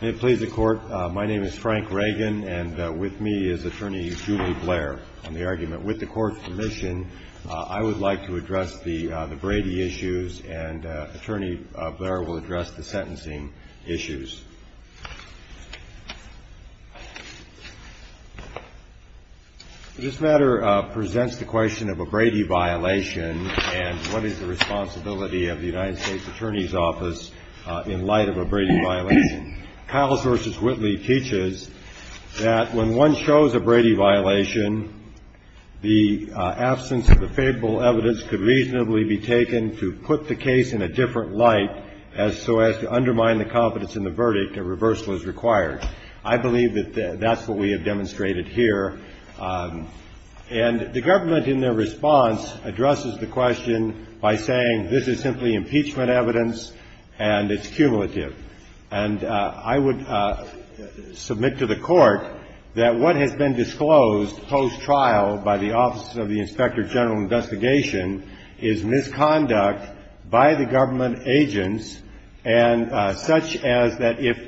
May it please the Court, my name is Frank Reagan, and with me is Attorney Julie Blair on the argument. With the Court's permission, I would like to address the Brady issues, and Attorney Blair will address the sentencing issues. This matter presents the question of a Brady violation and what is the responsibility of the United States Attorney's Office in light of a Brady violation. Kyle's v. Whitley teaches that when one shows a Brady violation, the absence of the favorable evidence could reasonably be taken to put the case in a different light as so as to undermine the confidence in the verdict, a reversal is required. I believe that that's what we have demonstrated here. And the government, in their response, addresses the question by saying this is simply impeachment evidence and it's cumulative. And I would submit to the Court that what has been disclosed post-trial by the Office of the Inspector General of Investigation is misconduct by the government agents, and such as that if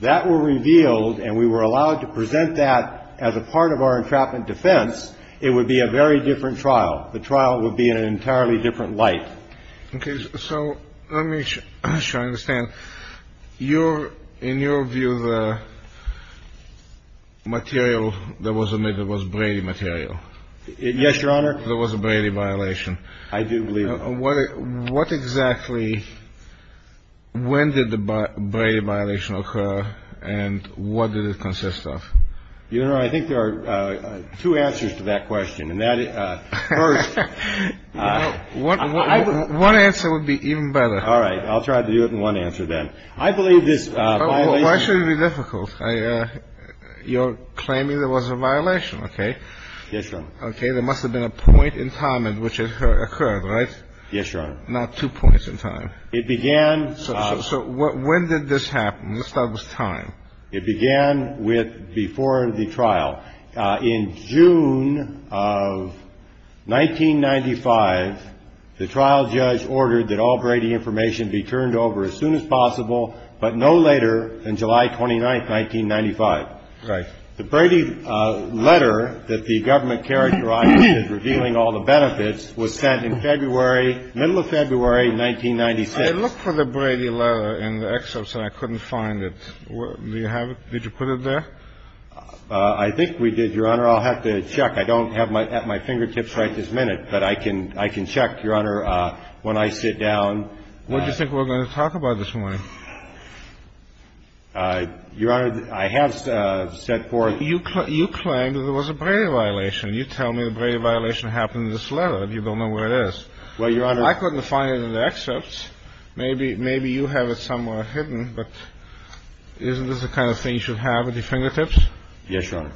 that were revealed and we were allowed to present that as a part of our entrapment defense, it would be a very different trial. The trial would be in an entirely different light. Okay. So let me try to understand. In your view, the material that was omitted was Brady material? Yes, Your Honor. There was a Brady violation. I do believe it. What exactly – when did the Brady violation occur and what did it consist of? Your Honor, I think there are two answers to that question. First – One answer would be even better. All right. I'll try to do it in one answer then. I believe this violation – Why should it be difficult? You're claiming there was a violation. Okay. Yes, Your Honor. Okay. There must have been a point in time in which it occurred, right? Yes, Your Honor. Not two points in time. It began – So when did this happen? Let's start with time. It began with before the trial. In June of 1995, the trial judge ordered that all Brady information be turned over as soon as possible, but no later than July 29, 1995. Right. The Brady letter that the government characterized as revealing all the benefits was sent in February – middle of February 1996. I looked for the Brady letter in the excerpts and I couldn't find it. Do you have it? Did you put it there? I think we did, Your Honor. I'll have to check. I don't have it at my fingertips right this minute, but I can check, Your Honor, when I sit down. What do you think we're going to talk about this morning? Your Honor, I have set forth – You claim that there was a Brady violation. You tell me the Brady violation happened in this letter. You don't know where it is. Well, Your Honor – I couldn't find it in the excerpts. Maybe you have it somewhere hidden, but isn't this the kind of thing you should have at your fingertips? Yes, Your Honor.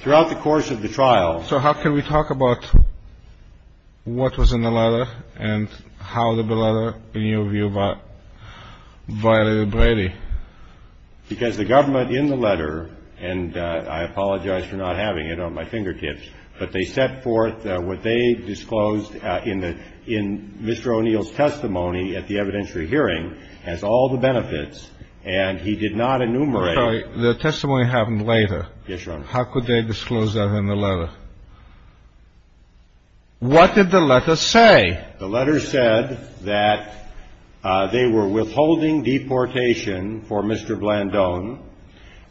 Throughout the course of the trial – So how can we talk about what was in the letter and how the letter, in your view, violated Brady? Because the government in the letter – and I apologize for not having it on my fingertips – but they set forth what they disclosed in Mr. O'Neill's testimony at the evidentiary hearing as all the benefits, and he did not enumerate – Sorry, the testimony happened later. Yes, Your Honor. How could they disclose that in the letter? What did the letter say? The letter said that they were withholding deportation for Mr. Blandone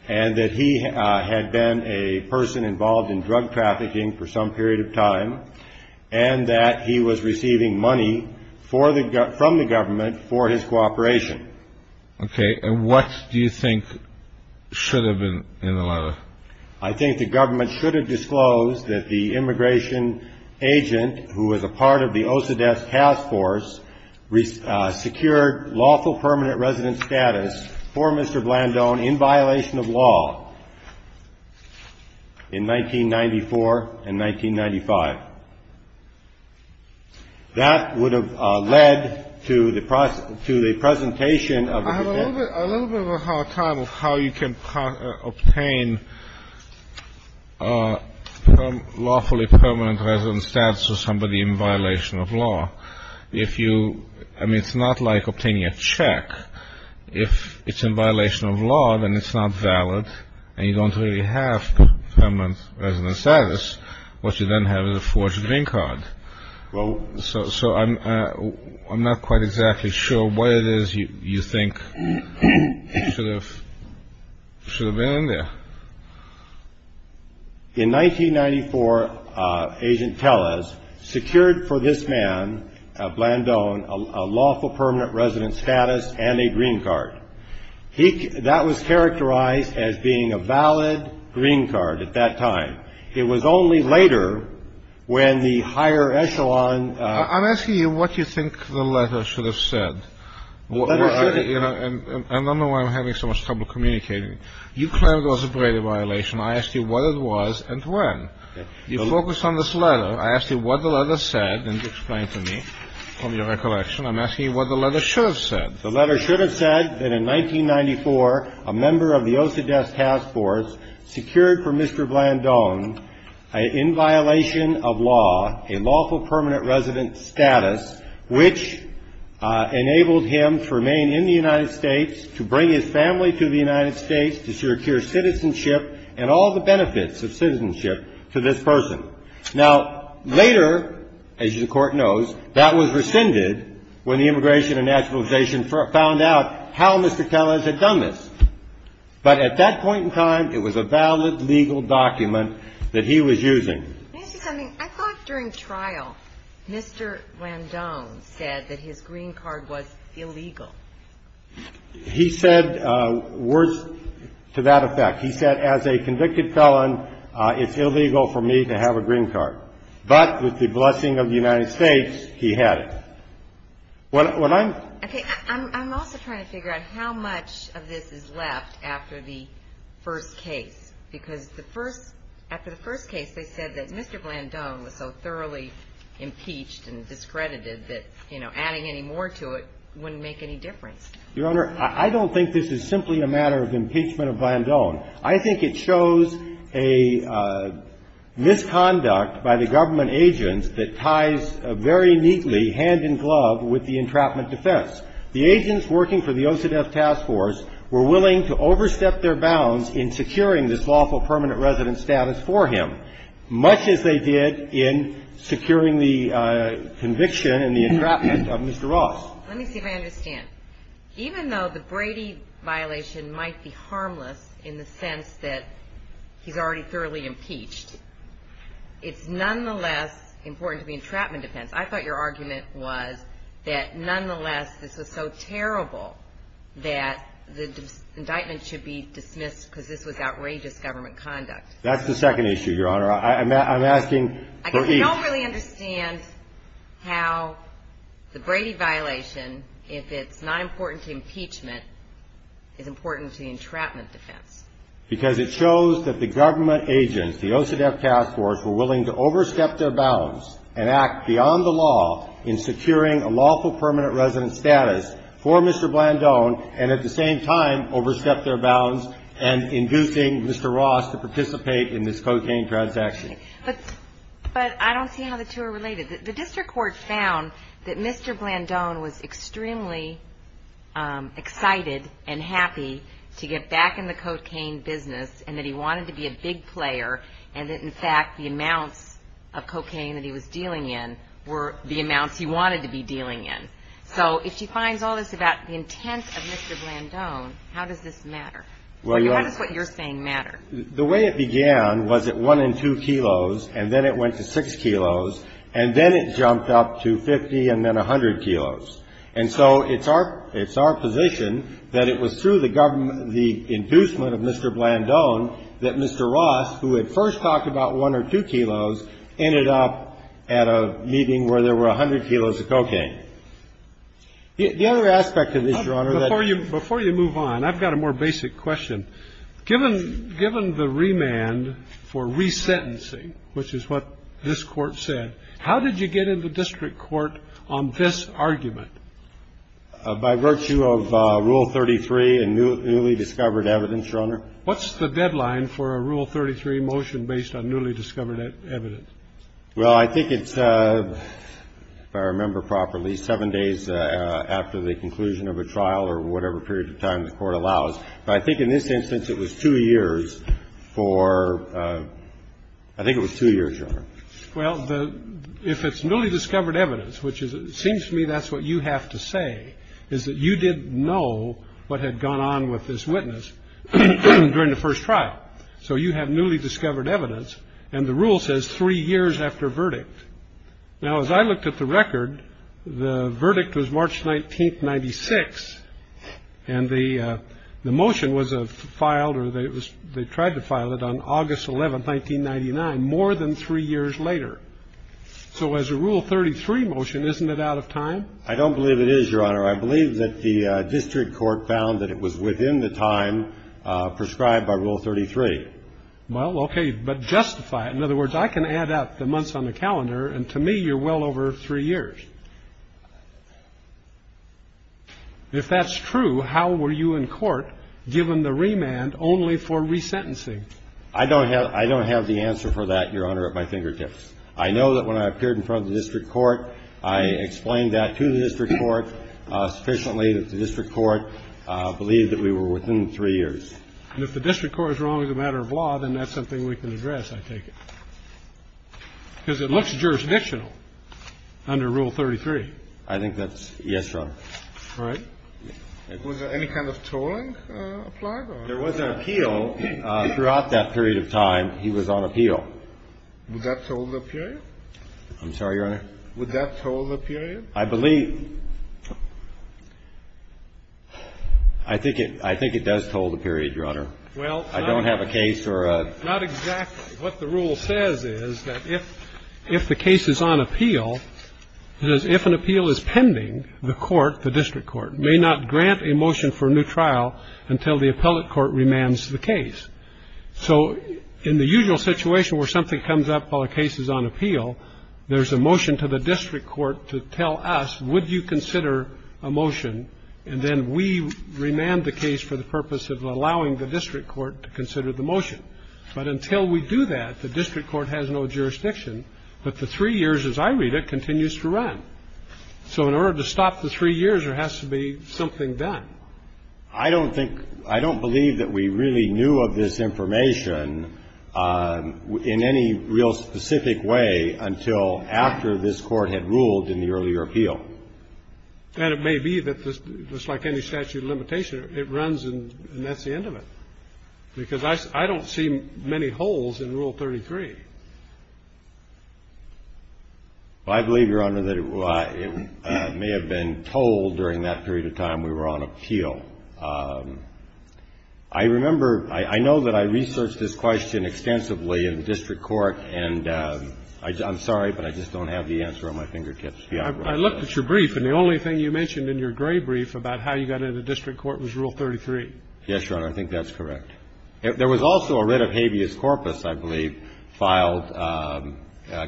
and that he had been a person involved in drug trafficking for some period of time and that he was receiving money from the government for his cooperation. Okay. And what do you think should have been in the letter? I think the government should have disclosed that the immigration agent, who was a part of the OCDETS task force, secured lawful permanent resident status for Mr. Blandone in violation of law in 1994 and 1995. That would have led to the presentation of the petition. A little bit of a hard time of how you can obtain lawfully permanent resident status for somebody in violation of law. I mean, it's not like obtaining a check. If it's in violation of law, then it's not valid and you don't really have permanent resident status. What you then have is a forged green card. So I'm not quite exactly sure what it is you think should have been in there. In 1994, Agent Tellez secured for this man, Blandone, a lawful permanent resident status and a green card. That was characterized as being a valid green card at that time. It was only later when the higher echelon ---- I'm asking you what you think the letter should have said. The letter should have ---- I don't know why I'm having so much trouble communicating. You claim it was a brevity violation. I asked you what it was and when. You focused on this letter. I asked you what the letter said, and you explained to me from your recollection. I'm asking you what the letter should have said. The letter should have said that in 1994, a member of the OCDETS task force secured for Mr. Blandone, in violation of law, a lawful permanent resident status, which enabled him to remain in the United States, to bring his family to the United States, to secure citizenship and all the benefits of citizenship to this person. Now, later, as the Court knows, that was rescinded when the Immigration and Naturalization found out how Mr. Tellez had done this. But at that point in time, it was a valid legal document that he was using. Mr. Cummings, I thought during trial, Mr. Blandone said that his green card was illegal. He said words to that effect. He said, as a convicted felon, it's illegal for me to have a green card. But with the blessing of the United States, he had it. When I'm ‑‑ Okay. I'm also trying to figure out how much of this is left after the first case. Because the first ‑‑ after the first case, they said that Mr. Blandone was so thoroughly impeached and discredited that, you know, adding any more to it wouldn't make any difference. Your Honor, I don't think this is simply a matter of impeachment of Blandone. I think it shows a misconduct by the government agents that ties very neatly hand in glove with the entrapment defense. The agents working for the OCDETF task force were willing to overstep their bounds in securing this lawful permanent resident status for him, much as they did in securing the conviction in the entrapment of Mr. Ross. Let me see if I understand. Even though the Brady violation might be harmless in the sense that he's already thoroughly impeached, it's nonetheless important to the entrapment defense. I thought your argument was that nonetheless this was so terrible that the indictment should be dismissed because this was outrageous government conduct. That's the second issue, Your Honor. I'm asking for each. I don't really understand how the Brady violation, if it's not important to impeachment, is important to the entrapment defense. Because it shows that the government agents, the OCDETF task force, were willing to overstep their bounds and act beyond the law in securing a lawful permanent resident status for Mr. Blandone and at the same time overstep their bounds and inducing Mr. Ross to participate in this cocaine transaction. But I don't see how the two are related. The district court found that Mr. Blandone was extremely excited and happy to get back in the cocaine business and that he wanted to be a big player and that, in fact, the amounts of cocaine that he was dealing in were the amounts he wanted to be dealing in. So if she finds all this about the intent of Mr. Blandone, how does this matter? How does what you're saying matter? The way it began was at one and two kilos, and then it went to six kilos, and then it jumped up to 50 and then 100 kilos. And so it's our position that it was through the inducement of Mr. Blandone that Mr. Ross, who had first talked about one or two kilos, ended up at a meeting where there were 100 kilos of cocaine. The other aspect of this, Your Honor, that ---- So given the remand for resentencing, which is what this Court said, how did you get into district court on this argument? By virtue of Rule 33 and newly discovered evidence, Your Honor. What's the deadline for a Rule 33 motion based on newly discovered evidence? Well, I think it's, if I remember properly, seven days after the conclusion of a trial or whatever period of time the Court allows. But I think in this instance it was two years for ---- I think it was two years, Your Honor. Well, if it's newly discovered evidence, which seems to me that's what you have to say, is that you didn't know what had gone on with this witness during the first trial. So you have newly discovered evidence, and the rule says three years after verdict. Now, as I looked at the record, the verdict was March 19, 1996, and the motion was filed or they tried to file it on August 11, 1999, more than three years later. So as a Rule 33 motion, isn't it out of time? I don't believe it is, Your Honor. I believe that the district court found that it was within the time prescribed by Rule 33. Well, okay, but justify it. In other words, I can add up the months on the calendar, and to me you're well over three years. If that's true, how were you in court given the remand only for resentencing? I don't have the answer for that, Your Honor, at my fingertips. I know that when I appeared in front of the district court, I explained that to the district court sufficiently that the district court believed that we were within three years. And if the district court is wrong as a matter of law, then that's something we can address, I take it, because it looks jurisdictional under Rule 33. I think that's yes, Your Honor. All right. Was there any kind of tolling applied? There was an appeal. Throughout that period of time, he was on appeal. Would that toll the period? I'm sorry, Your Honor? Would that toll the period? I believe ñ I think it does toll the period, Your Honor. Well, not exactly. I don't have a case or a ñ Not exactly. What the rule says is that if the case is on appeal, it says if an appeal is pending, the court, the district court, may not grant a motion for a new trial until the appellate court remands the case. So in the usual situation where something comes up while a case is on appeal, there's a motion to the district court to tell us, would you consider a motion, and then we remand the case for the purpose of allowing the district court to consider the motion. But until we do that, the district court has no jurisdiction. But the three years, as I read it, continues to run. So in order to stop the three years, there has to be something done. I don't think ñ I don't believe that we really knew of this information in any real specific way until after this Court had ruled in the earlier appeal. And it may be that just like any statute of limitation, it runs and that's the end of it, because I don't see many holes in Rule 33. Well, I believe, Your Honor, that it may have been told during that period of time we were on appeal. I remember ñ I know that I researched this question extensively in the district court, and I'm sorry, but I just don't have the answer on my fingertips. I looked at your brief, and the only thing you mentioned in your gray brief about how you got into the district court was Rule 33. Yes, Your Honor, I think that's correct. There was also a writ of habeas corpus, I believe, filed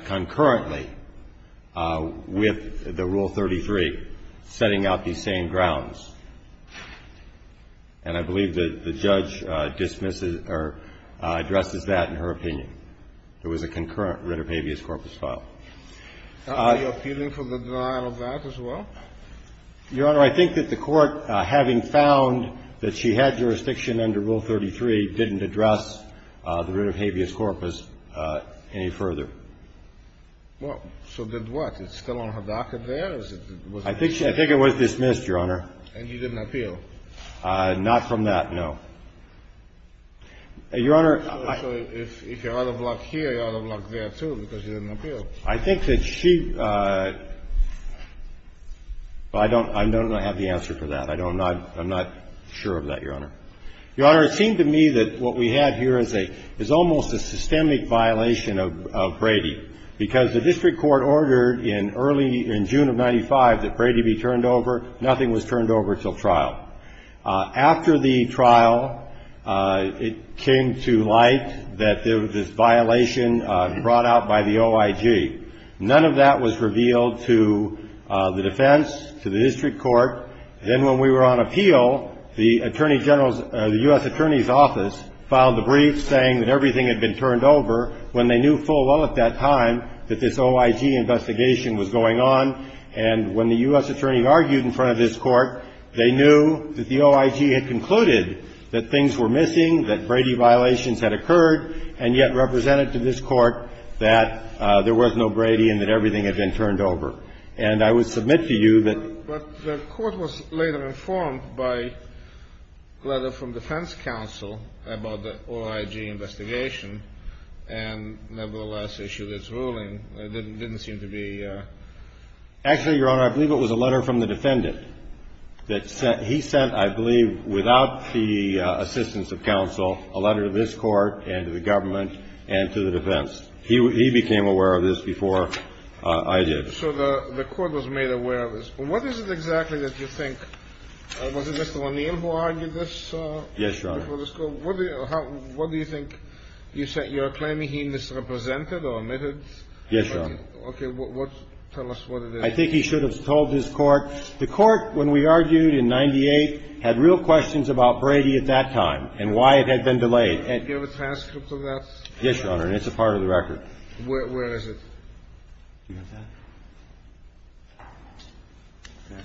concurrently with the Rule 33, setting out these same grounds. And I believe that the judge dismisses or addresses that in her opinion. There was a concurrent writ of habeas corpus filed. Are you appealing for the denial of that as well? Your Honor, I think that the Court, having found that she had jurisdiction under Rule 33, didn't address the writ of habeas corpus any further. Well, so then what? Is it still on her docket there? I think it was dismissed, Your Honor. And you didn't appeal? Not from that, no. Your Honor, I ñ So if you're out of luck here, you're out of luck there, too, because you didn't I think that she ñ I don't have the answer for that. I'm not sure of that, Your Honor. Your Honor, it seemed to me that what we had here is almost a systemic violation of Brady, because the district court ordered in early ñ in June of 95 that Brady be turned over. Nothing was turned over until trial. After the trial, it came to light that there was this violation brought out by the OIG. None of that was revealed to the defense, to the district court. Then when we were on appeal, the Attorney General's ñ the U.S. Attorney's Office filed a brief saying that everything had been turned over when they knew full well at that time that this OIG investigation was going on. And when the U.S. Attorney argued in front of this Court, they knew that the OIG had concluded that things were missing, that Brady violations had occurred, and yet they represented to this Court that there was no Brady and that everything had been turned over. And I would submit to you that ñ But the Court was later informed by a letter from defense counsel about the OIG investigation and nevertheless issued its ruling. It didn't seem to be ñ Actually, Your Honor, I believe it was a letter from the defendant that he sent, I believe, without the assistance of counsel, a letter to this Court and to the government and to the defense. He became aware of this before I did. So the Court was made aware of this. What is it exactly that you think ñ was it Mr. O'Neill who argued this? Yes, Your Honor. Before this Court? What do you think? You're claiming he misrepresented or omitted? Yes, Your Honor. Okay. Tell us what it is. I think he should have told this Court. The Court, when we argued in 98, had real questions about Brady at that time and why it had been delayed. Do you have a transcript of that? Yes, Your Honor. And it's a part of the record. Where is it? Do you have that?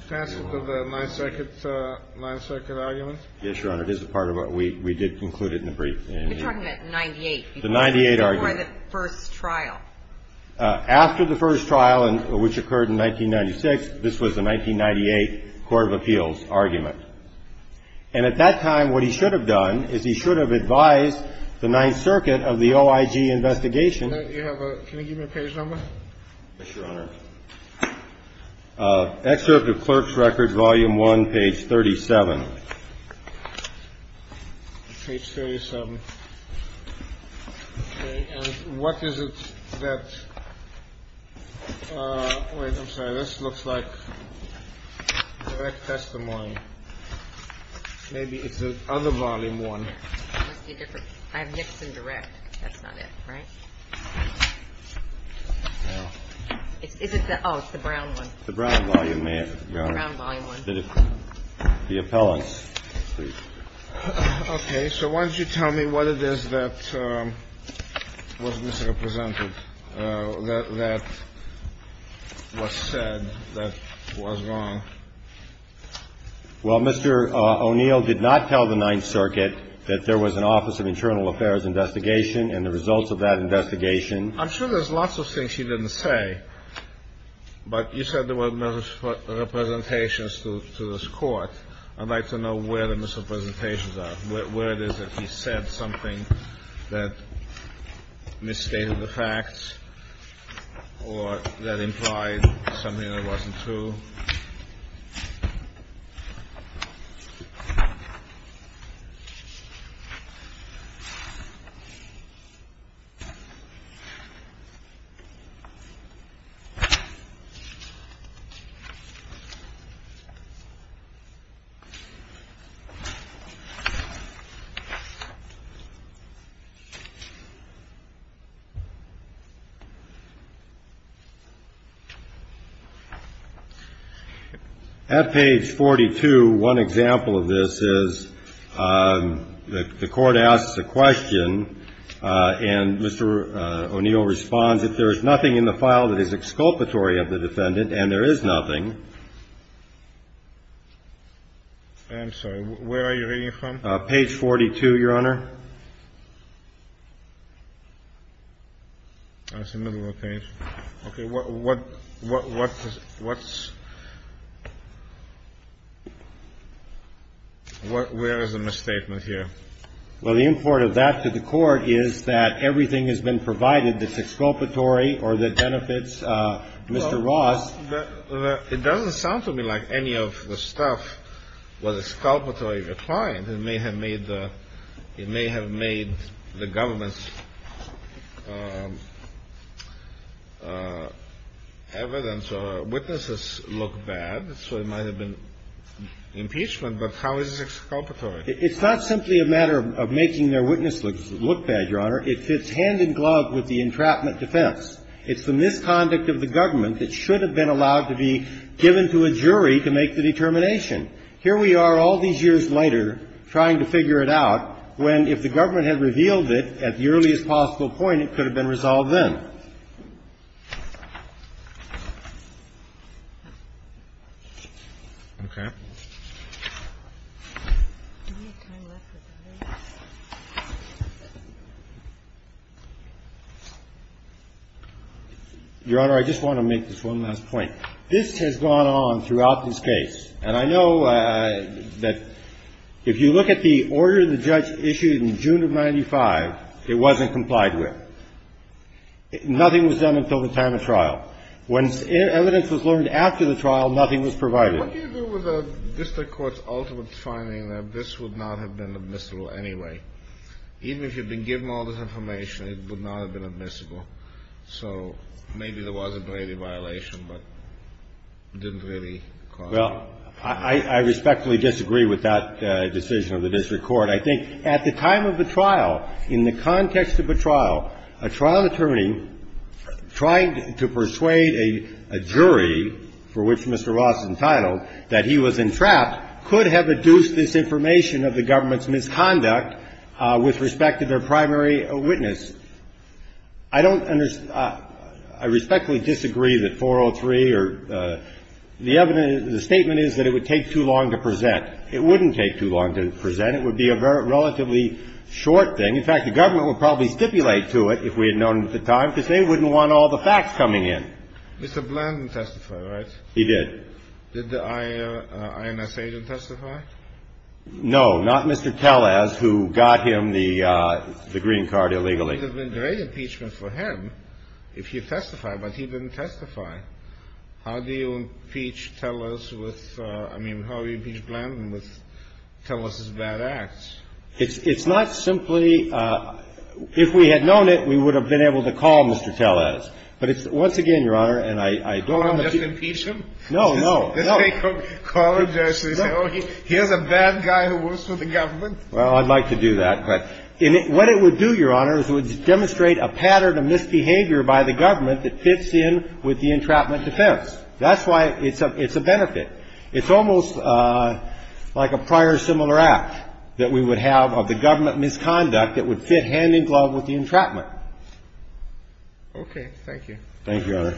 Transcript of the Ninth Circuit argument? Yes, Your Honor. It is a part of what we did conclude in the brief. You're talking about 98. The 98 argument. Before the first trial. After the first trial, which occurred in 1996, this was the 1998 Court of Appeals argument. And at that time, what he should have done is he should have advised the Ninth Circuit of the OIG investigation. Can you give me a page number? Yes, Your Honor. Excerpt of Clerk's Record, Volume 1, page 37. Page 37. And what is it that – wait, I'm sorry. This looks like direct testimony. Maybe it's the other Volume 1. I have Nixon direct. That's not it, right? Is it the – oh, it's the brown one. The brown Volume 1, Your Honor. The brown Volume 1. The appellant. Okay. So why don't you tell me what it is that was misrepresented, that was said that was wrong. Well, Mr. O'Neill did not tell the Ninth Circuit that there was an Office of Internal Affairs investigation and the results of that investigation. I'm sure there's lots of things he didn't say, but you said there were misrepresentations to this Court. I'd like to know where the misrepresentations are, where it is that he said something that misstated the facts or that implied something that wasn't true. At page 42, one example of this is the Court asks a question, and Mr. O'Neill responds, if there is nothing in the file that is exculpatory of the defendant, and there is nothing. I'm sorry. Where are you reading from? Page 42, Your Honor. That's the middle of the page. Okay. What's where is the misstatement here? Well, the import of that to the Court is that everything has been provided that's exculpatory or that benefits Mr. Ross. It doesn't sound to me like any of the stuff was exculpatory of the client. It may have made the government's evidence or witnesses look bad, so it might have been impeachment, but how is this exculpatory? It's not simply a matter of making their witnesses look bad, Your Honor. It fits hand in glove with the entrapment defense. It's the misconduct of the government that should have been allowed to be given to a jury to make the determination. Here we are all these years later trying to figure it out when, if the government had revealed it at the earliest possible point, it could have been resolved then. Okay. Your Honor, I just want to make this one last point. This has gone on throughout this case, and I know that if you look at the order the judge issued in June of 1995, it wasn't complied with. Nothing was done until the time of trial. When evidence was learned after the trial, nothing was provided. What do you do with the district court's ultimate finding that this would not have been admissible anyway? Even if you'd been given all this information, it would not have been admissible. So maybe there was a Brady violation, but it didn't really cause it. Well, I respectfully disagree with that decision of the district court. I think at the time of the trial, in the context of the trial, a trial attorney trying to persuade a jury, for which Mr. Ross is entitled, that he was entrapped could have adduced this information of the government's misconduct with respect to their primary witness. I don't understand. I respectfully disagree that 403 or the evidence, the statement is that it would take too long to present. It wouldn't take too long to present. It would be a relatively short thing. In fact, the government would probably stipulate to it, if we had known at the time, because they wouldn't want all the facts coming in. Mr. Bland didn't testify, right? He did. Did the INS agent testify? No, not Mr. Tellez, who got him the green card illegally. It would have been a great impeachment for him if he testified, but he didn't testify. How do you impeach Tellez with – I mean, how do you impeach Bland with Tellez's bad acts? It's not simply – if we had known it, we would have been able to call Mr. Tellez. But it's – once again, Your Honor, and I don't want to – Call and just impeach him? No, no, no. Call and just say, oh, here's a bad guy who works for the government? Well, I'd like to do that. But what it would do, Your Honor, is it would demonstrate a pattern of misbehavior by the government that fits in with the entrapment defense. That's why it's a benefit. It's almost like a prior similar act that we would have of the government misconduct that would fit hand in glove with the entrapment. Okay. Thank you. Thank you, Your Honor.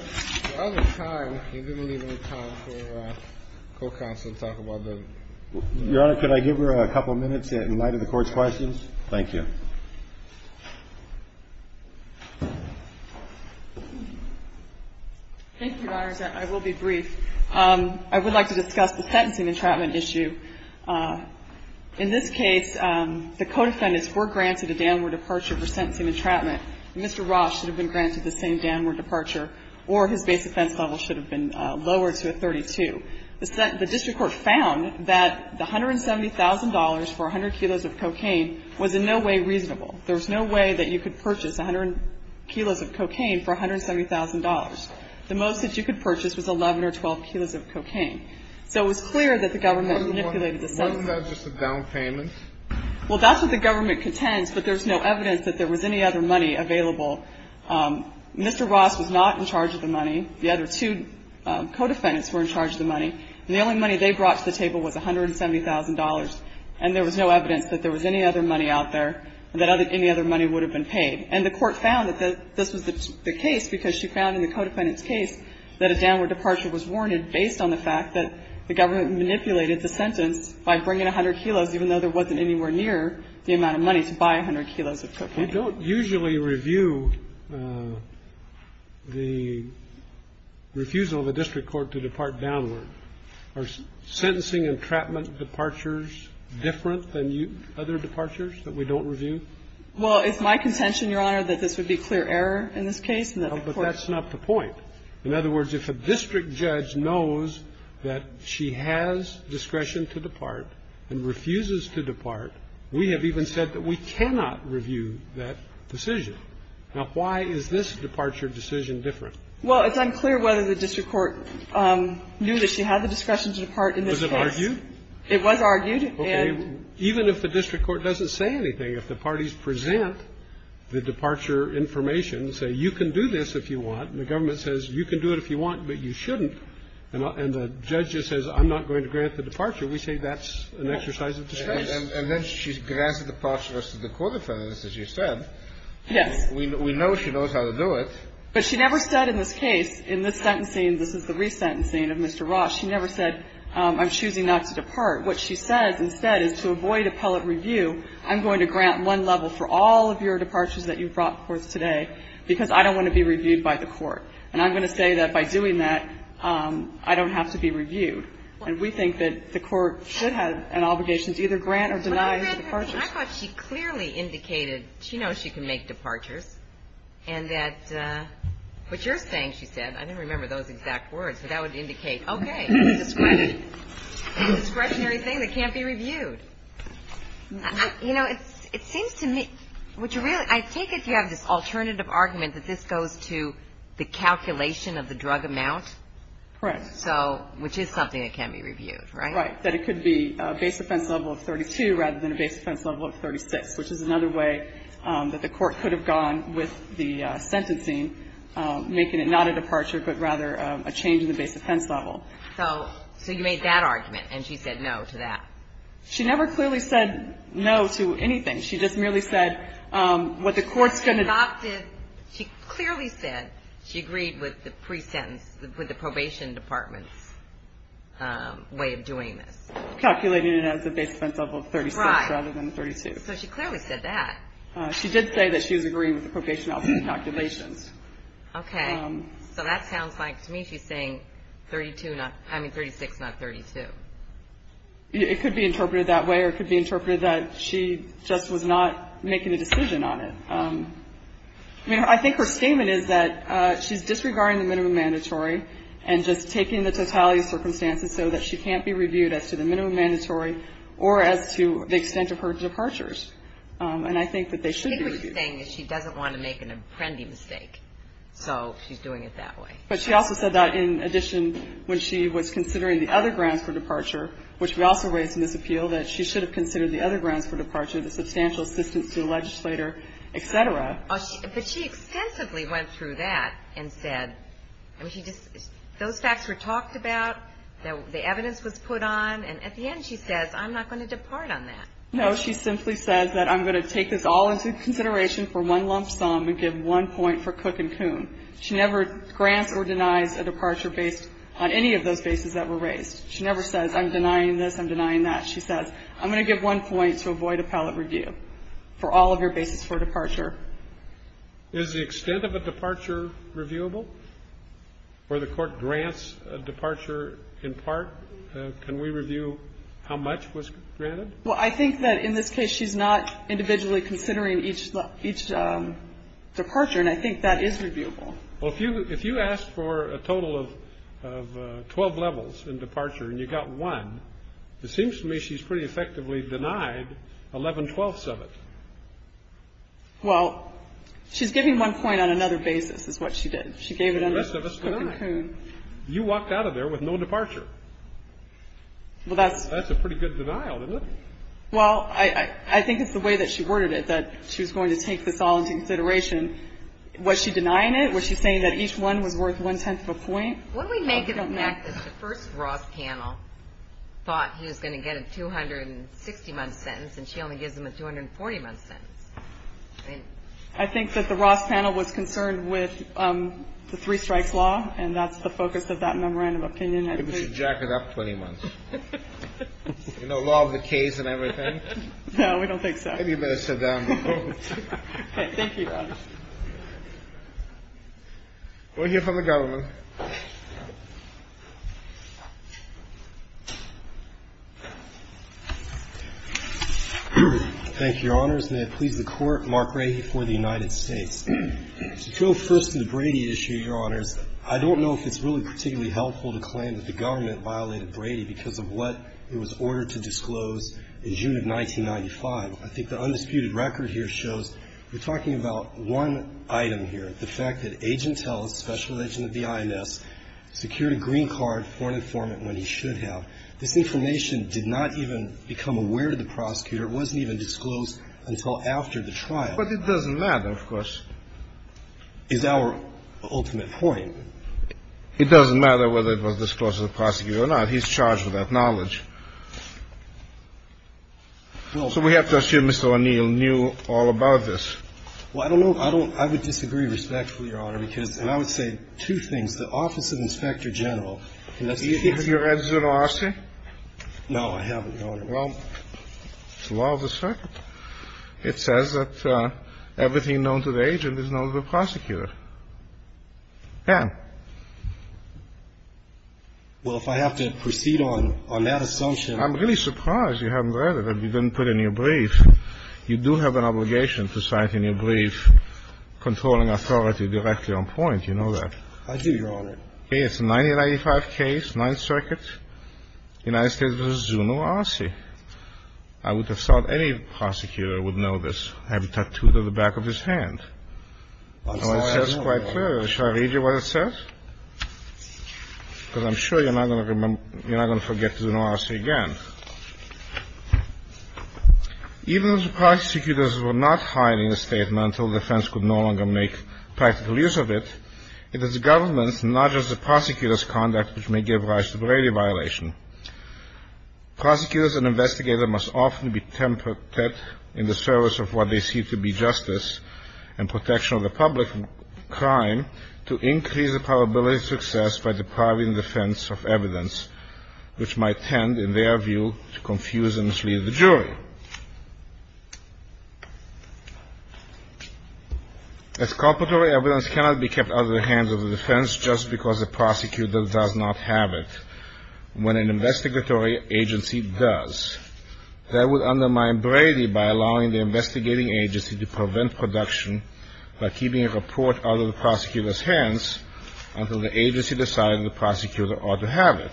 We're out of time. You're going to need more time for co-counsel to talk about the – Your Honor, could I give her a couple minutes in light of the Court's questions? Thank you. Thank you, Your Honors. I will be brief. I would like to discuss the sentencing entrapment issue. In this case, the co-defendants were granted a downward departure for sentencing entrapment. Mr. Roth should have been granted the same downward departure, or his base offense level should have been lower to a 32. The district court found that the $170,000 for 100 kilos of cocaine was in no way reasonable. There was no way that you could purchase 100 kilos of cocaine for $170,000. The most that you could purchase was 11 or 12 kilos of cocaine. So it was clear that the government manipulated the sentencing. Wasn't that just a down payment? Well, that's what the government contends, but there's no evidence that there was any other money available. Mr. Roth was not in charge of the money. The other two co-defendants were in charge of the money. And the only money they brought to the table was $170,000, and there was no evidence that there was any other money out there and that any other money would have been paid. And the Court found that this was the case because she found in the co-defendant's case that a downward departure was warranted based on the fact that the government manipulated the sentence by bringing 100 kilos, even though there wasn't anywhere near the amount of money to buy 100 kilos of cocaine. But we don't usually review the refusal of a district court to depart downward. Are sentencing entrapment departures different than other departures that we don't review? Well, it's my contention, Your Honor, that this would be clear error in this case. But that's not the point. In other words, if a district judge knows that she has discretion to depart and refuses to depart, we have even said that we cannot review that decision. Now, why is this departure decision different? Well, it's unclear whether the district court knew that she had the discretion to depart in this case. Was it argued? It was argued. Okay. Even if the district court doesn't say anything, if the parties present the departure information and say, you can do this if you want, and the government says you can do it if you want, but you shouldn't, and the judge just says, I'm not going to grant the departure, we say that's an exercise of discretion. And then she grants the departure to the court offenders, as you said. Yes. We know she knows how to do it. But she never said in this case, in this sentencing, this is the resentencing of Mr. Ross, she never said, I'm choosing not to depart. What she says instead is, to avoid appellate review, I'm going to grant one level for all of your departures that you brought forth today because I don't want to be reviewed by the court. And I'm going to say that by doing that, I don't have to be reviewed. And we think that the court should have an obligation to either grant or deny her departures. But you read her thing. I thought she clearly indicated she knows she can make departures, and that what you're saying, she said, I didn't remember those exact words, but that would indicate, okay, it's a discretionary thing that can't be reviewed. You know, it seems to me, what you really – I think if you have this alternative argument that this goes to the calculation of the drug amount. Correct. So, which is something that can be reviewed, right? Right. That it could be a base offense level of 32 rather than a base offense level of 36, which is another way that the court could have gone with the sentencing, making it not a departure, but rather a change in the base offense level. So you made that argument, and she said no to that? She never clearly said no to anything. She just merely said what the court's going to do. She clearly said she agreed with the pre-sentence, with the probation department's way of doing this. Calculating it as a base offense level of 36 rather than 32. Right. So she clearly said that. She did say that she was agreeing with the probation officer's calculations. Okay. So that sounds like, to me, she's saying 36, not 32. It could be interpreted that way, or it could be interpreted that she just was not making a decision on it. I mean, I think her statement is that she's disregarding the minimum mandatory and just taking the totality of circumstances so that she can't be reviewed as to the minimum mandatory or as to the extent of her departures. And I think that they should be reviewed. She's clearly saying that she doesn't want to make an apprendi mistake, so she's doing it that way. But she also said that, in addition, when she was considering the other grounds for departure, which we also raised in this appeal, that she should have considered the other grounds for departure, the substantial assistance to the legislator, et cetera. But she extensively went through that and said, those facts were talked about, the evidence was put on, and at the end she says, I'm not going to depart on that. No. She simply says that I'm going to take this all into consideration for one lump sum and give one point for Cook and Coon. She never grants or denies a departure based on any of those bases that were raised. She never says, I'm denying this, I'm denying that. She says, I'm going to give one point to avoid appellate review for all of your bases for departure. Is the extent of a departure reviewable, or the Court grants a departure in part? Can we review how much was granted? Well, I think that in this case she's not individually considering each departure, and I think that is reviewable. Well, if you asked for a total of 12 levels in departure and you got one, it seems to me she's pretty effectively denied 11 twelfths of it. Well, she's giving one point on another basis is what she did. She gave it under Cook and Coon. The rest of us were not. You walked out of there with no departure. Well, that's a pretty good denial, isn't it? Well, I think it's the way that she worded it that she was going to take this all into consideration. Was she denying it? Was she saying that each one was worth one-tenth of a point? What we make of that is the first Ross panel thought he was going to get a 260-month sentence, and she only gives him a 240-month sentence. I think that the Ross panel was concerned with the three-strikes law, and that's the focus of that memorandum of opinion. I think we should jack it up 20 months. You know, law of the case and everything. No, we don't think so. Maybe you better sit down and vote. Thank you, Your Honor. We'll hear from the government. Thank you, Your Honors. May it please the Court. Mark Rahe for the United States. To go first to the Brady issue, Your Honors, I don't know if it's really particularly helpful to claim that the government violated Brady because of what it was ordered to disclose in June of 1995. I think the undisputed record here shows we're talking about one item here, the fact that Agent Ellis, special agent of the INS, secured a green card for an informant when he should have. This information did not even become aware to the prosecutor. It wasn't even disclosed until after the trial. But it doesn't matter, of course. Is our ultimate point. It doesn't matter whether it was disclosed to the prosecutor or not. He's charged with that knowledge. So we have to assume Mr. O'Neill knew all about this. Well, I don't know. I don't – I would disagree respectfully, Your Honor, because – and I would say two things. The Office of Inspector General. Do you think it's your answer to our question? No, I haven't, Your Honor. Well, it's the law of the circuit. It says that everything known to the agent is known to the prosecutor. Yeah. Well, if I have to proceed on that assumption – I'm really surprised you haven't read it. You didn't put it in your brief. You do have an obligation to cite in your brief controlling authority directly on point. You know that. I do, Your Honor. Okay. It's a 1995 case, Ninth Circuit. United States v. Zuno, R.C. I would have thought any prosecutor would know this. I'm sorry, I don't, Your Honor. Sure. Should I read you what it says? Because I'm sure you're not going to forget Zuno, R.C. again. Even if the prosecutors were not hiding the statement until the defense could no longer make practical use of it, it is the government's, not just the prosecutor's, conduct which may give rise to brevity violation. Prosecutors and investigators must often be tempered in the service of what they see to be justice and protection of the public from crime to increase the probability of success by depriving the defense of evidence which might tend, in their view, to confuse and mislead the jury. Exculpatory evidence cannot be kept out of the hands of the defense just because the prosecutor does not have it when an investigatory agency does. That would undermine brevity by allowing the investigating agency to prevent production by keeping a report out of the prosecutor's hands until the agency decides the prosecutor ought to have it,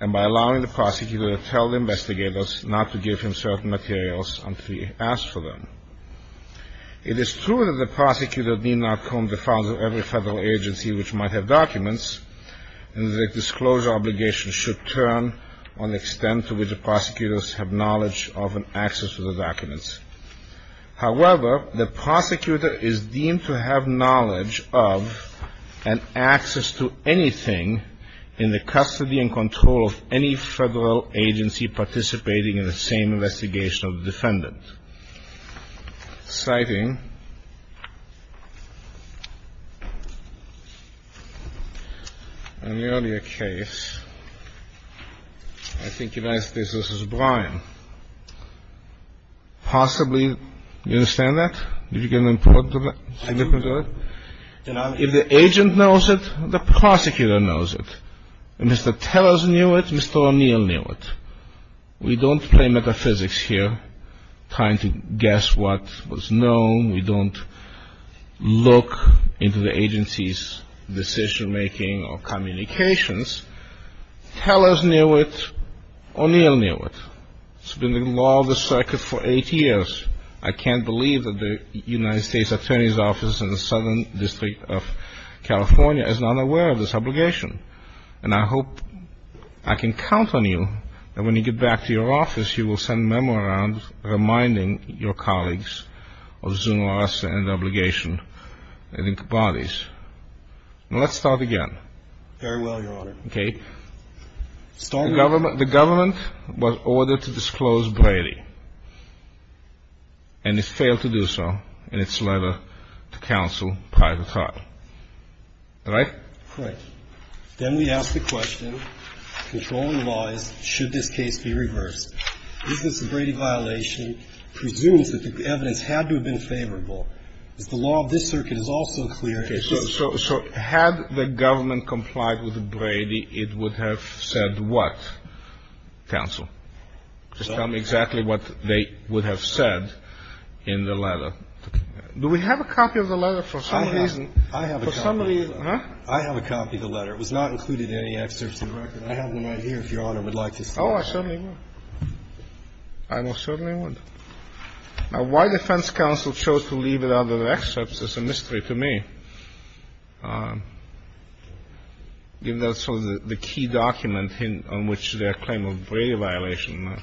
and by allowing the prosecutor to tell the investigators not to give him certain materials until he asks for them. It is true that the prosecutor need not comb the fronds of every federal agency which might have documents, and the disclosure obligation should turn on the extent to which the prosecutors have knowledge of and access to the documents. However, the prosecutor is deemed to have knowledge of and access to anything in the custody and control of any federal agency participating in the same investigation of the defendant, citing In the earlier case, I think you asked this. This is Brian. Possibly, you understand that? Did you get an importance of that? If the agent knows it, the prosecutor knows it. If Mr. Tellers knew it, Mr. O'Neill knew it. We don't play metaphysics here, trying to guess what was known. We don't look into the agency's decision-making or communications. Tellers knew it. O'Neill knew it. It's been the law of the circuit for eight years. I can't believe that the United States Attorney's Office in the Southern District of California is not aware of this obligation, and I hope I can count on you that when you get back to your office, you will send a memo around reminding your colleagues of Zunar's obligation and bodies. Let's start again. Very well, Your Honor. Okay. The government was ordered to disclose Brady, and it failed to do so in its letter to counsel prior to trial. Right? Right. Then we ask the question, controlling laws, should this case be reversed? Is this a Brady violation? Presumes that the evidence had to have been favorable. Is the law of this circuit also clear? Okay. So had the government complied with Brady, it would have said what, counsel? Just tell me exactly what they would have said in the letter. Do we have a copy of the letter for some reason? I have a copy. For some reason. I have a copy of the letter. It was not included in any excerpts of the record. I have one right here, if Your Honor would like to see it. Oh, I certainly would. I most certainly would. Now, why defense counsel chose to leave it out of the excerpts is a mystery to me, given that it's sort of the key document on which their claim of Brady violation was.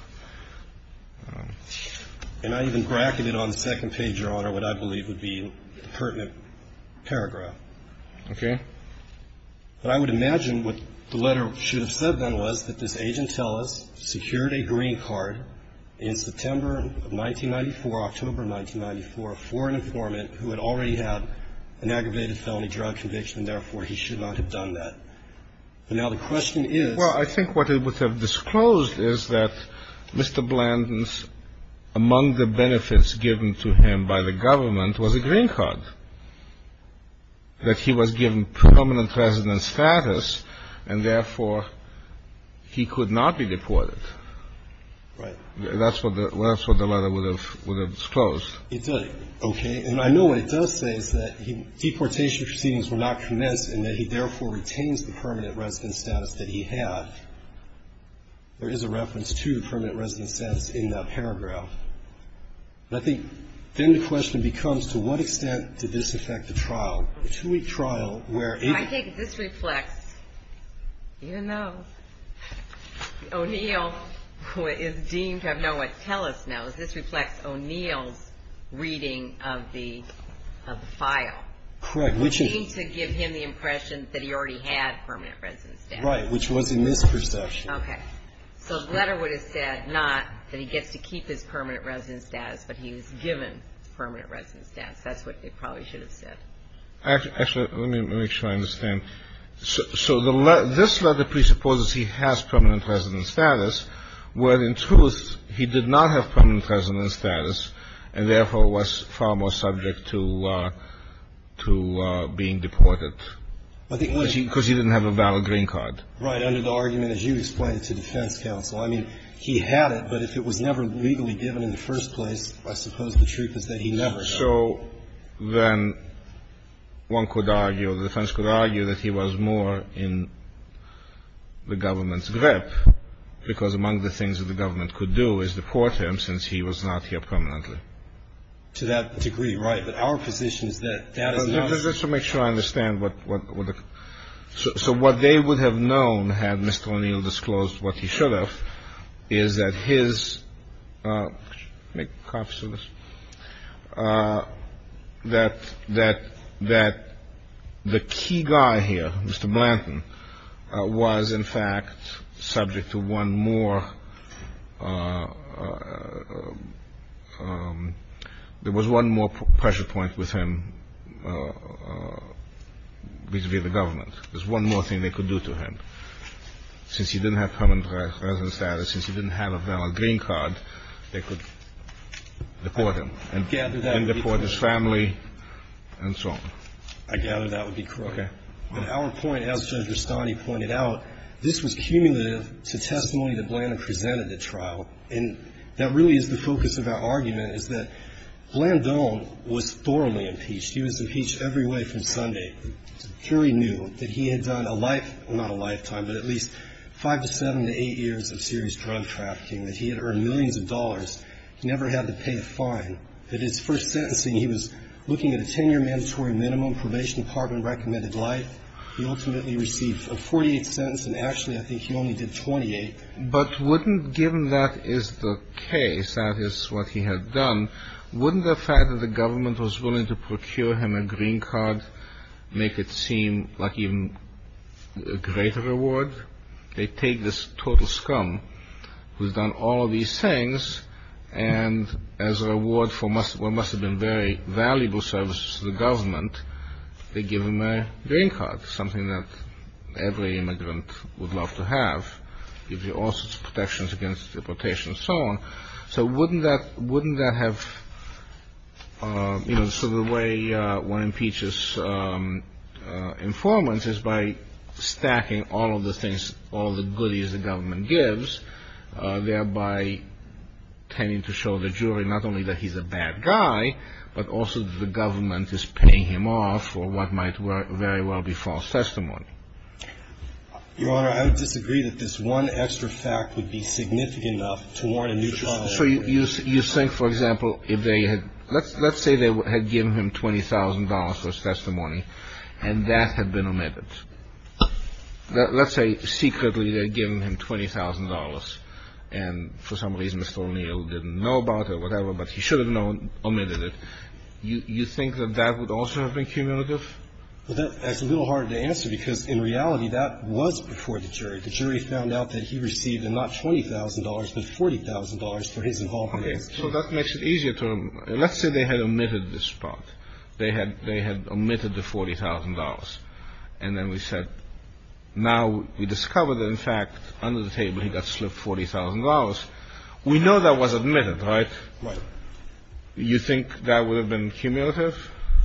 And I even bracketed on the second page, Your Honor, what I believe would be the pertinent paragraph. Okay. But I would imagine what the letter should have said then was that this agent tell us secured a green card in September of 1994, October of 1994, for an informant who had already had an aggravated felony drug conviction, and therefore he should not have done that. And now the question is. Well, I think what it would have disclosed is that Mr. Blandon's, among the benefits given to him by the government, was a green card. That he was given permanent resident status, and therefore he could not be deported. Right. That's what the letter would have disclosed. It did. Okay. And I know what it does say is that deportation proceedings were not commenced and that he therefore retains the permanent resident status that he had. There is a reference to permanent resident status in that paragraph. I think then the question becomes to what extent did this affect the trial? A two-week trial where it. I think this reflects, you know, O'Neill is deemed to have known what Telus knows. This reflects O'Neill's reading of the file. Correct. Which is. Deemed to give him the impression that he already had permanent resident status. Right. Which was a misperception. Okay. So the letter would have said not that he gets to keep his permanent resident status, but he was given permanent resident status. That's what it probably should have said. Actually, let me make sure I understand. So this letter presupposes he has permanent resident status, when in truth he did not have permanent resident status, and therefore was far more subject to being deported. Because he didn't have a valid green card. Right. Under the argument as you explained to defense counsel. I mean, he had it, but if it was never legally given in the first place, I suppose the truth is that he never had it. So then one could argue or the defense could argue that he was more in the government's grip because among the things that the government could do is deport him since he was not here permanently. To that degree. Right. But our position is that that is not. Let's make sure I understand. So what they would have known had Mr. O'Neill disclosed what he should have, is that his make copies of this that that that the key guy here, Mr. Blanton was in fact subject to one more. There was one more pressure point with him vis-à-vis the government. There's one more thing they could do to him. Since he didn't have permanent resident status, since he didn't have a valid green card, they could deport him and deport his family and so on. I gather that would be correct. Okay. But our point, as Judge Rustani pointed out, this was cumulative to testimony that Blanton presented at trial. And that really is the focus of our argument, is that Blanton was thoroughly impeached. He was impeached every way from Sunday. The jury knew that he had done a life, well, not a lifetime, but at least five to seven to eight years of serious drug trafficking, that he had earned millions of dollars. He never had to pay a fine. At his first sentencing, he was looking at a 10-year mandatory minimum, probation department recommended life. He ultimately received a 48th sentence, and actually I think he only did 28. But wouldn't, given that is the case, that is what he had done, wouldn't the fact that the government was willing to procure him a green card make it seem like even a greater reward? They take this total scum who's done all of these things, and as a reward for what must have been very valuable services to the government, they give him a green card, something that every immigrant would love to have, gives you all sorts of protections against deportation and so on. So wouldn't that have, you know, so the way one impeaches informants is by stacking all of the things, all the goodies the government gives, thereby tending to show the jury not only that he's a bad guy, but also that the government is paying him off for what might very well be false testimony. Your Honor, I would disagree that this one extra fact would be significant enough to warrant a new trial. So you think, for example, if they had, let's say they had given him $20,000 for his testimony, and that had been omitted. Let's say secretly they had given him $20,000, and for some reason Mr. O'Neill didn't know about it or whatever, but he should have known, omitted it. You think that that would also have been cumulative? Well, that's a little harder to answer, because in reality that was before the jury. The jury found out that he received not $20,000, but $40,000 for his involvement. Okay. So that makes it easier to, let's say they had omitted this part. They had omitted the $40,000. And then we said, now we discovered that, in fact, under the table he got slipped $40,000. We know that was omitted, right? Right. You think that would have been cumulative?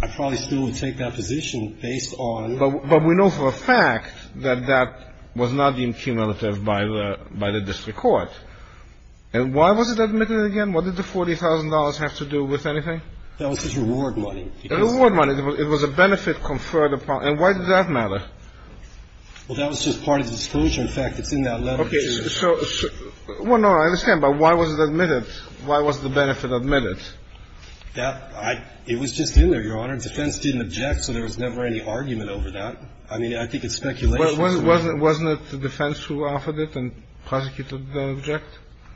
I probably still would take that position based on the fact that that was not deemed cumulative by the district court. And why was it omitted again? What did the $40,000 have to do with anything? That was his reward money. The reward money. It was a benefit conferred upon. And why did that matter? Well, that was just part of the disclosure. In fact, it's in that letter. Okay. Well, no, I understand. But why was it omitted? Why was the benefit omitted? It was just in there, Your Honor. Defense didn't object, so there was never any argument over that. I mean, I think it's speculation. Wasn't it the defense who offered it and prosecuted the object?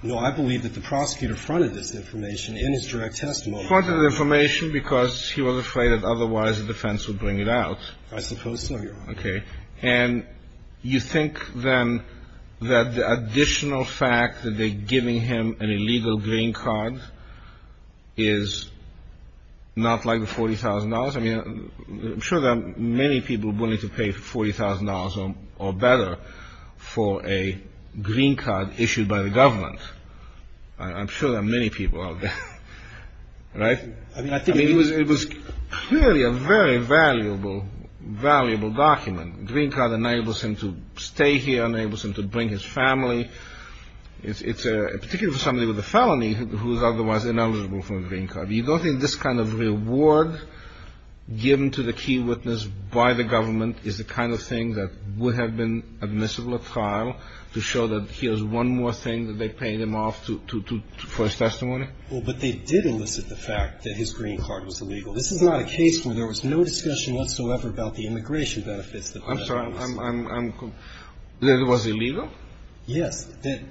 No. I believe that the prosecutor fronted this information in his direct testimony. Fronted the information because he was afraid that otherwise the defense would bring it out. I suppose so, Your Honor. Okay. And you think, then, that the additional fact that they're giving him an illegal green card is not like the $40,000? I mean, I'm sure there are many people willing to pay $40,000 or better for a green card issued by the government. I'm sure there are many people out there. Right? I mean, it was clearly a very valuable, valuable document. A green card enables him to stay here, enables him to bring his family. It's a — particularly for somebody with a felony who is otherwise ineligible for a green card. You don't think this kind of reward given to the key witness by the government is the kind of thing that would have been admissible at trial to show that here's one more thing that they're paying him off for his testimony? Well, but they did elicit the fact that his green card was illegal. This is not a case where there was no discussion whatsoever about the immigration benefits. I'm sorry. I'm — that it was illegal? Yes.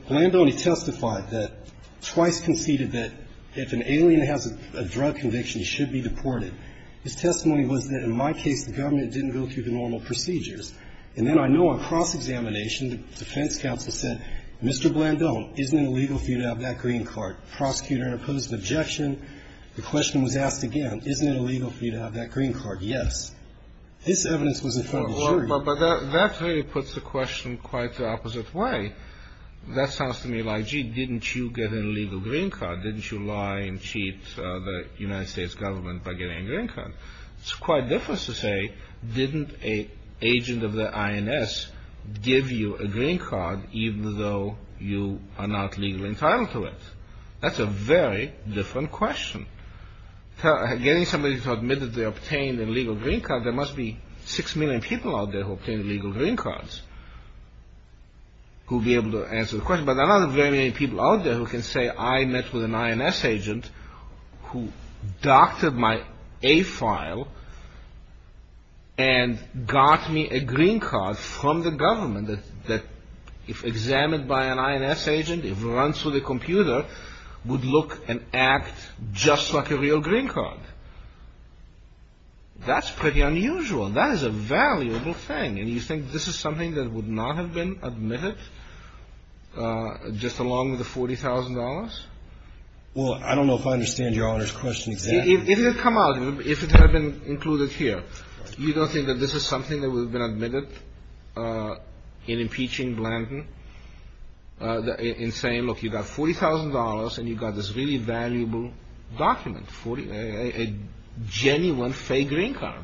Blandone testified that — twice conceded that if an alien has a drug conviction, he should be deported. His testimony was that, in my case, the government didn't go through the normal procedures. And then I know on cross-examination, the defense counsel said, Mr. Blandone, isn't it illegal for you to have that green card? Prosecutor opposed the objection. The question was asked again, isn't it illegal for you to have that green card? Yes. This evidence was in front of the jury. Well, but that really puts the question quite the opposite way. That sounds to me like, gee, didn't you get an illegal green card? Didn't you lie and cheat the United States government by getting a green card? It's quite different to say, didn't an agent of the INS give you a green card even though you are not legally entitled to it? That's a very different question. Getting somebody to admit that they obtained an illegal green card, there must be 6 million people out there who obtained illegal green cards who would be able to answer the question. But there are not very many people out there who can say I met with an INS agent who doctored my A file and got me a green card from the government that, if examined by an INS agent, if run through the computer, would look and act just like a real green card. That's pretty unusual. That is a valuable thing. And you think this is something that would not have been admitted just along with the $40,000? Well, I don't know if I understand Your Honor's question exactly. If it had come out, if it had been included here, you don't think that this is something that would have been admitted in impeaching Blanton in saying, look, you got $40,000 and you got this really valuable document, a genuine fake green card?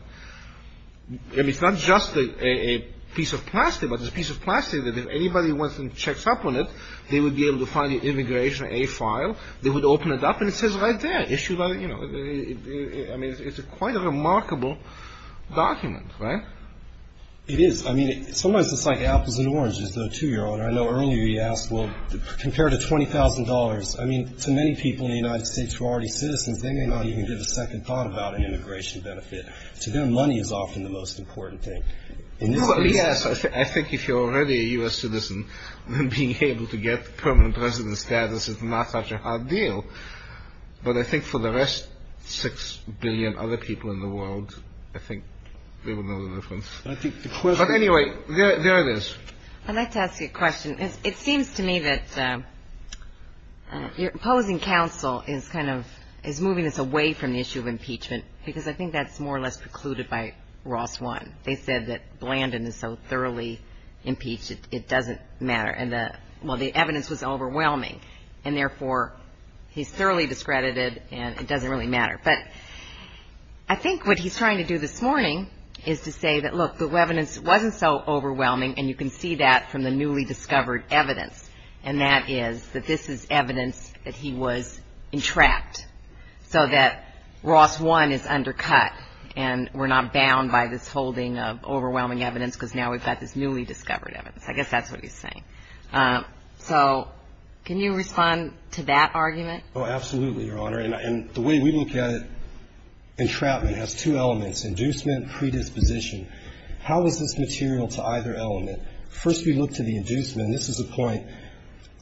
I mean, it's not just a piece of plastic, but it's a piece of plastic that if anybody wants to check up on it, they would be able to find the immigration A file. They would open it up and it says right there, issued by, you know, I mean, it's quite a remarkable document, right? It is. I mean, sometimes it's like apples and oranges to a 2-year-old. I know earlier you asked, well, compared to $20,000, I mean, to many people in the United States who are already citizens, they may not even give a second thought about an immigration benefit. So their money is often the most important thing. Well, yes, I think if you're already a U.S. citizen, then being able to get permanent resident status is not such a hard deal. But I think for the rest 6 billion other people in the world, I think they would know the difference. But anyway, there it is. I'd like to ask you a question. It seems to me that your opposing counsel is kind of, is moving us away from the issue of impeachment because I think that's more or less precluded by Ross 1. They said that Blandin is so thoroughly impeached it doesn't matter. And, well, the evidence was overwhelming, and therefore he's thoroughly discredited and it doesn't really matter. But I think what he's trying to do this morning is to say that, look, the evidence wasn't so overwhelming, and you can see that from the newly discovered evidence, and that is that this is evidence that he was entrapped, so that Ross 1 is undercut and we're not bound by this holding of overwhelming evidence because now we've got this newly discovered evidence. I guess that's what he's saying. So can you respond to that argument? Oh, absolutely, Your Honor. And the way we look at it, entrapment has two elements, inducement, predisposition. How is this material to either element? First we look to the inducement, and this is a point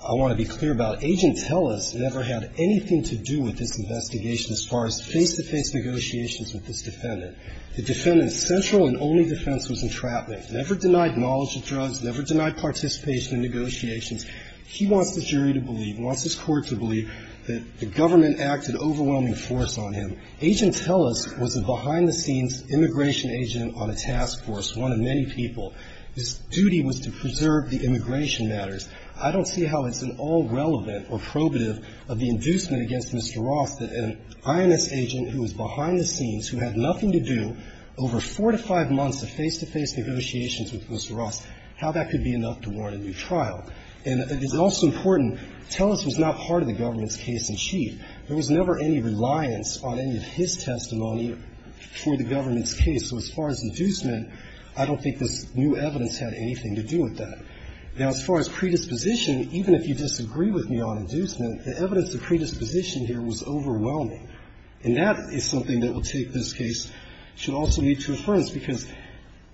I want to be clear about. Agent Tellis never had anything to do with this investigation as far as face-to-face negotiations with this defendant. The defendant's central and only defense was entrapment. Never denied knowledge of drugs, never denied participation in negotiations. He wants the jury to believe, wants his court to believe that the government acted overwhelming force on him. Agent Tellis was a behind-the-scenes immigration agent on a task force, one of many people. His duty was to preserve the immigration matters. I don't see how it's an all-relevant or probative of the inducement against Mr. Ross that an INS agent who was behind the scenes, who had nothing to do, over four to five months of face-to-face negotiations with Mr. Ross, how that could be enough to warrant a new trial. And it's also important, Tellis was not part of the government's case in chief. There was never any reliance on any of his testimony for the government's case. So as far as inducement, I don't think this new evidence had anything to do with that. Now, as far as predisposition, even if you disagree with me on inducement, the evidence of predisposition here was overwhelming. And that is something that will take this case, should also lead to affirmance, because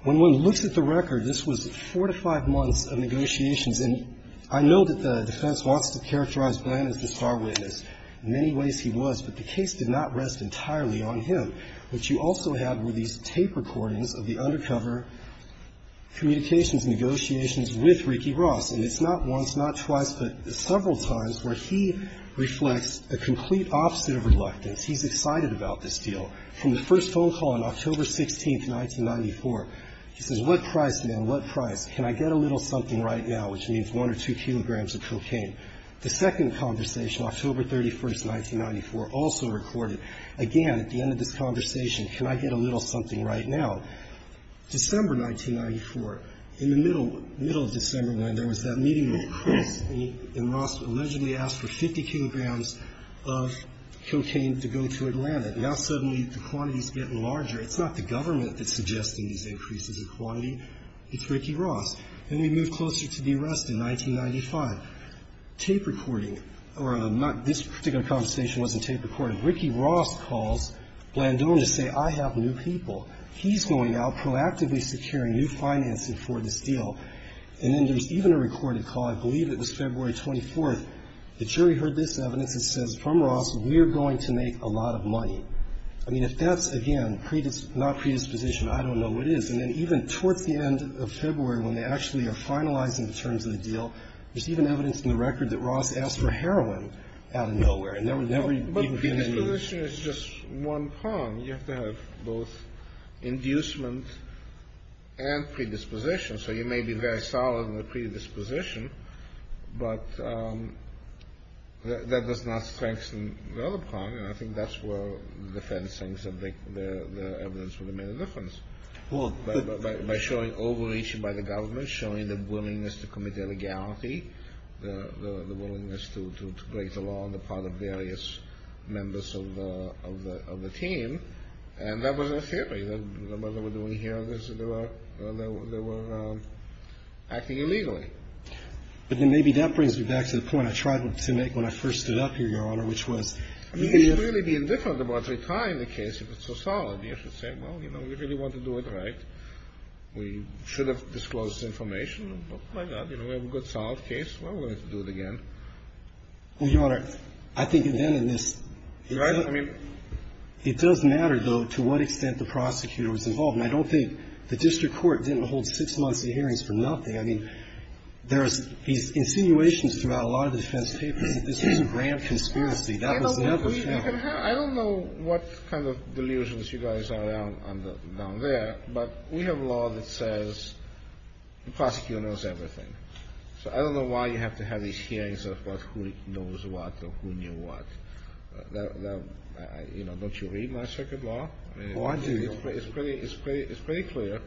when one looks at the record, this was four to five months of negotiations. And I know that the defense wants to characterize Glenn as the star witness. In many ways, he was, but the case did not rest entirely on him. What you also have were these tape recordings of the undercover communications negotiations with Ricky Ross. And it's not once, not twice, but several times where he reflects a complete opposite of reluctance. He's excited about this deal. From the first phone call on October 16, 1994, he says, what price, man, what price? Can I get a little something right now, which means one or two kilograms of cocaine? The second conversation, October 31, 1994, also recorded, again, at the end of this conversation, can I get a little something right now? December 1994, in the middle of December when there was that meeting with Chris, and Ross allegedly asked for 50 kilograms of cocaine to go to Atlanta. Now suddenly the quantity's getting larger. It's not the government that's suggesting these increases in quantity. It's Ricky Ross. Then we move closer to the arrest in 1995. Tape recording, or this particular conversation wasn't tape recorded. Ricky Ross calls Glandon to say, I have new people. He's going out, proactively securing new financing for this deal. And then there's even a recorded call. I believe it was February 24. The jury heard this evidence. It says, from Ross, we're going to make a lot of money. I mean, if that's, again, not predisposition, I don't know what it is. And then even towards the end of February, when they actually are finalizing the terms of the deal, there's even evidence in the record that Ross asked for heroin out of nowhere. And there were never even going to be ---- You have to have both inducement and predisposition. So you may be very solid in the predisposition, but that does not strengthen the other part. And I think that's where the defense thinks that the evidence would have made a difference. By showing overreach by the government, showing the willingness to commit illegality, the willingness to break the law on the part of various members of the team. And that was a theory, that what they were doing here, they were acting illegally. But then maybe that brings me back to the point I tried to make when I first stood up here, Your Honor, which was ---- You should really be indifferent about retrying the case if it's so solid. You should say, well, you know, we really want to do it right. We should have disclosed information. Well, my God, you know, we have a good, solid case. Why would we have to do it again? Well, Your Honor, I think then in this ---- Right? I mean ---- It does matter, though, to what extent the prosecutor was involved. And I don't think the district court didn't hold six months of hearings for nothing. I mean, there's these insinuations throughout a lot of defense papers that this was a grand conspiracy. That was never the case. I don't know what kind of delusions you guys are on down there, but we have law that says the prosecutor knows everything. So I don't know why you have to have these hearings of who knows what or who knew what. You know, don't you read my circuit law? Oh, I do. It's pretty clear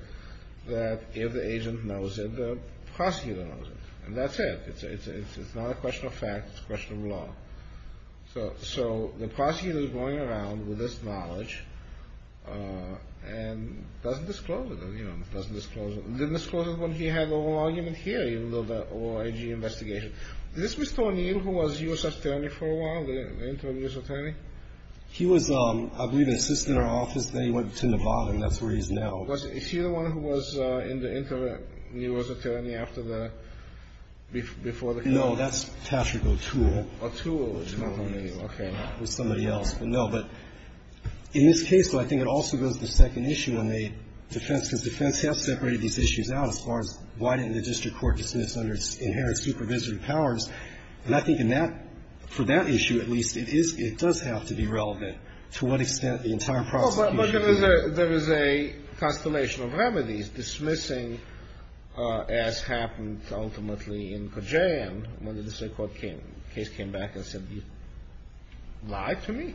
that if the agent knows it, the prosecutor knows it. And that's it. It's not a question of fact. It's a question of law. So the prosecutor is going around with this knowledge and doesn't disclose it. Didn't disclose it when he had the whole argument hearing, the whole IG investigation. Is this Mr. O'Neill who was U.S. attorney for a while, the interim U.S. attorney? He was, I believe, an assistant in our office. Then he went to Nevada, and that's where he's now. But is he the one who was in the interim U.S. attorney after the ---- No, that's Patrick O'Toole. O'Toole is not O'Neill. Okay. It was somebody else. No, but in this case, though, I think it also goes to the second issue on the defense, because defense has separated these issues out as far as why didn't the district court dismiss under its inherent supervisory powers. And I think in that ---- for that issue, at least, it is ---- it does have to be relevant to what extent the entire prosecution ---- Well, but there was a ---- there was a constellation of remedies dismissing, as happened ultimately in Kodjan, when the district court came ---- case came back and said, you lied to me?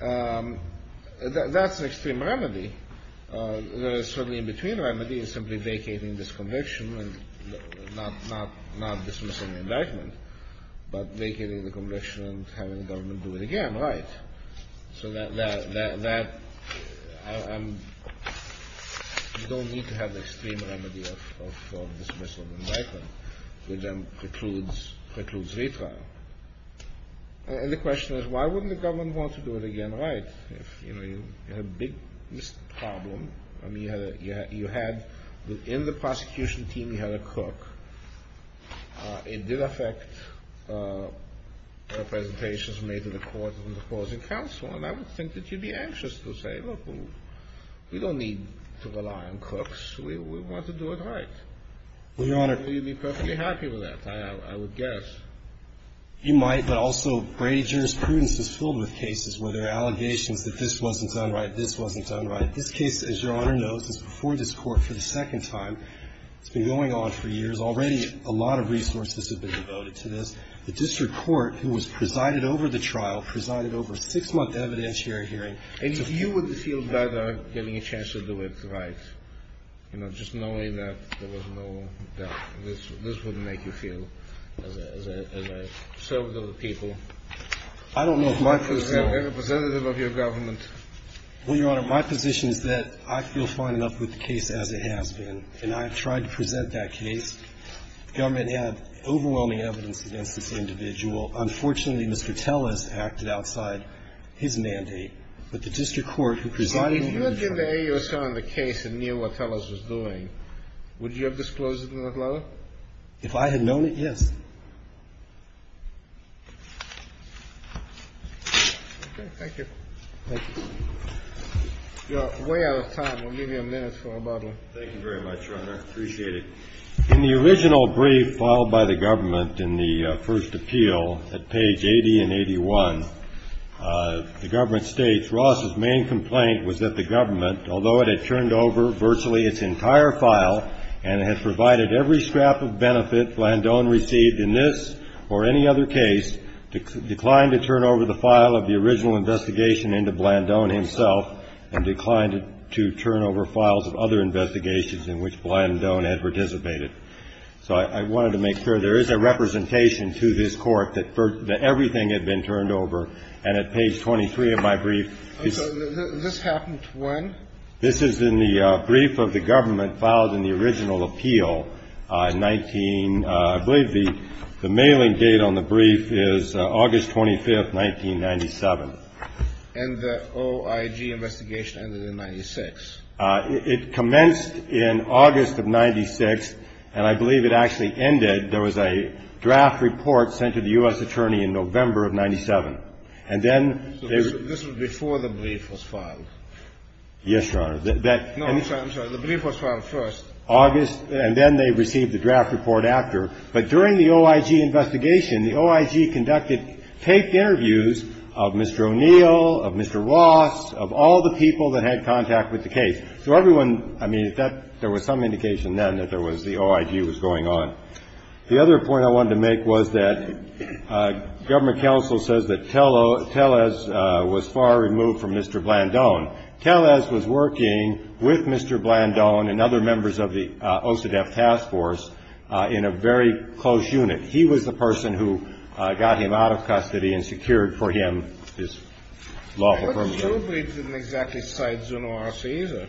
That's an extreme remedy. There is certainly in between remedy is simply vacating this conviction and not dismissing the indictment, but vacating the conviction and having the government do it again. Right. So that ---- you don't need to have the extreme remedy of dismissal of indictment Kodjan precludes, precludes retrial. And the question is, why wouldn't the government want to do it again? Right. If, you know, you had a big problem, I mean, you had a ---- you had within the prosecution team, you had a crook. It did affect the presentations made to the court and the closing counsel, and I would think that you'd be anxious to say, look, we don't need to rely on crooks. We want to do it right. Well, Your Honor ---- You'd be perfectly happy with that, I would guess. You might, but also Brady jurisprudence is filled with cases where there are allegations that this wasn't done right, this wasn't done right. This case, as Your Honor knows, is before this Court for the second time. It's been going on for years. Already a lot of resources have been devoted to this. The district court, who was presided over the trial, presided over a six-month evidentiary hearing. And you would feel better getting a chance to do it right, you know, just knowing that there was no ---- that this wouldn't make you feel as a servant of the people. I don't know if my position ---- Representative of your government. Well, Your Honor, my position is that I feel fine enough with the case as it has been, and I have tried to present that case. The government had overwhelming evidence against this individual. Unfortunately, Mr. Tellis acted outside his mandate. But the district court, who presided over the trial ---- Would you have disclosed it in the letter? If I had known it, yes. Okay. Thank you. Thank you. You're way out of time. We'll give you a minute for rebuttal. Thank you very much, Your Honor. Appreciate it. In the original brief filed by the government in the first appeal at page 80 and 81, the government states, Ross's main complaint was that the government, although it had turned over virtually its entire file and had provided every scrap of benefit Blandon received in this or any other case, declined to turn over the file of the original investigation into Blandon himself and declined to turn over files of other investigations in which Blandon had participated. So I wanted to make sure there is a representation to this Court that everything had been turned over. And at page 23 of my brief ---- So this happened when? This is in the brief of the government filed in the original appeal, 19 ---- I believe the mailing date on the brief is August 25th, 1997. And the OIG investigation ended in 96. It commenced in August of 96, and I believe it actually ended. There was a draft report sent to the U.S. attorney in November of 97. And then ---- So this was before the brief was filed? Yes, Your Honor. No, I'm sorry. The brief was filed first. August. And then they received the draft report after. But during the OIG investigation, the OIG conducted taped interviews of Mr. O'Neill, of Mr. Ross, of all the people that had contact with the case. So everyone ---- I mean, there was some indication then that there was the OIG was going on. The other point I wanted to make was that government counsel says that Tellez was far removed from Mr. Blandone. Tellez was working with Mr. Blandone and other members of the OCDETF task force in a very close unit. He was the person who got him out of custody and secured for him his lawful permit. But Zubri didn't exactly cite Zuno R.C. either.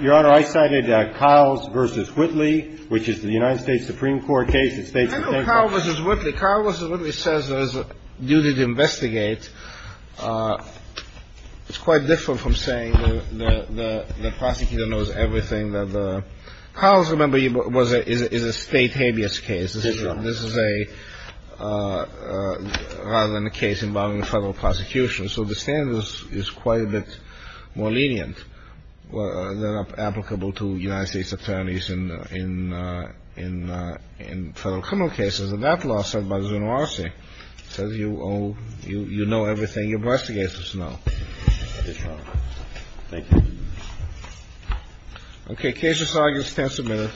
Your Honor, I cited Kiles v. Whitley, which is the United States Supreme Court case that states that ---- I know Kiles v. Whitley. Kiles v. Whitley says there's a duty to investigate. It's quite different from saying the prosecutor knows everything that the ---- Kiles, remember, is a state habeas case. This is a ---- rather than a case involving a federal prosecution. So the standard is quite a bit more lenient than applicable to United States attorneys in federal criminal cases. And that law said by Zuno R.C. says you owe ---- you know everything your prosecutors know. Thank you, Your Honor. Thank you. Okay. Case is argued. Stand submitted.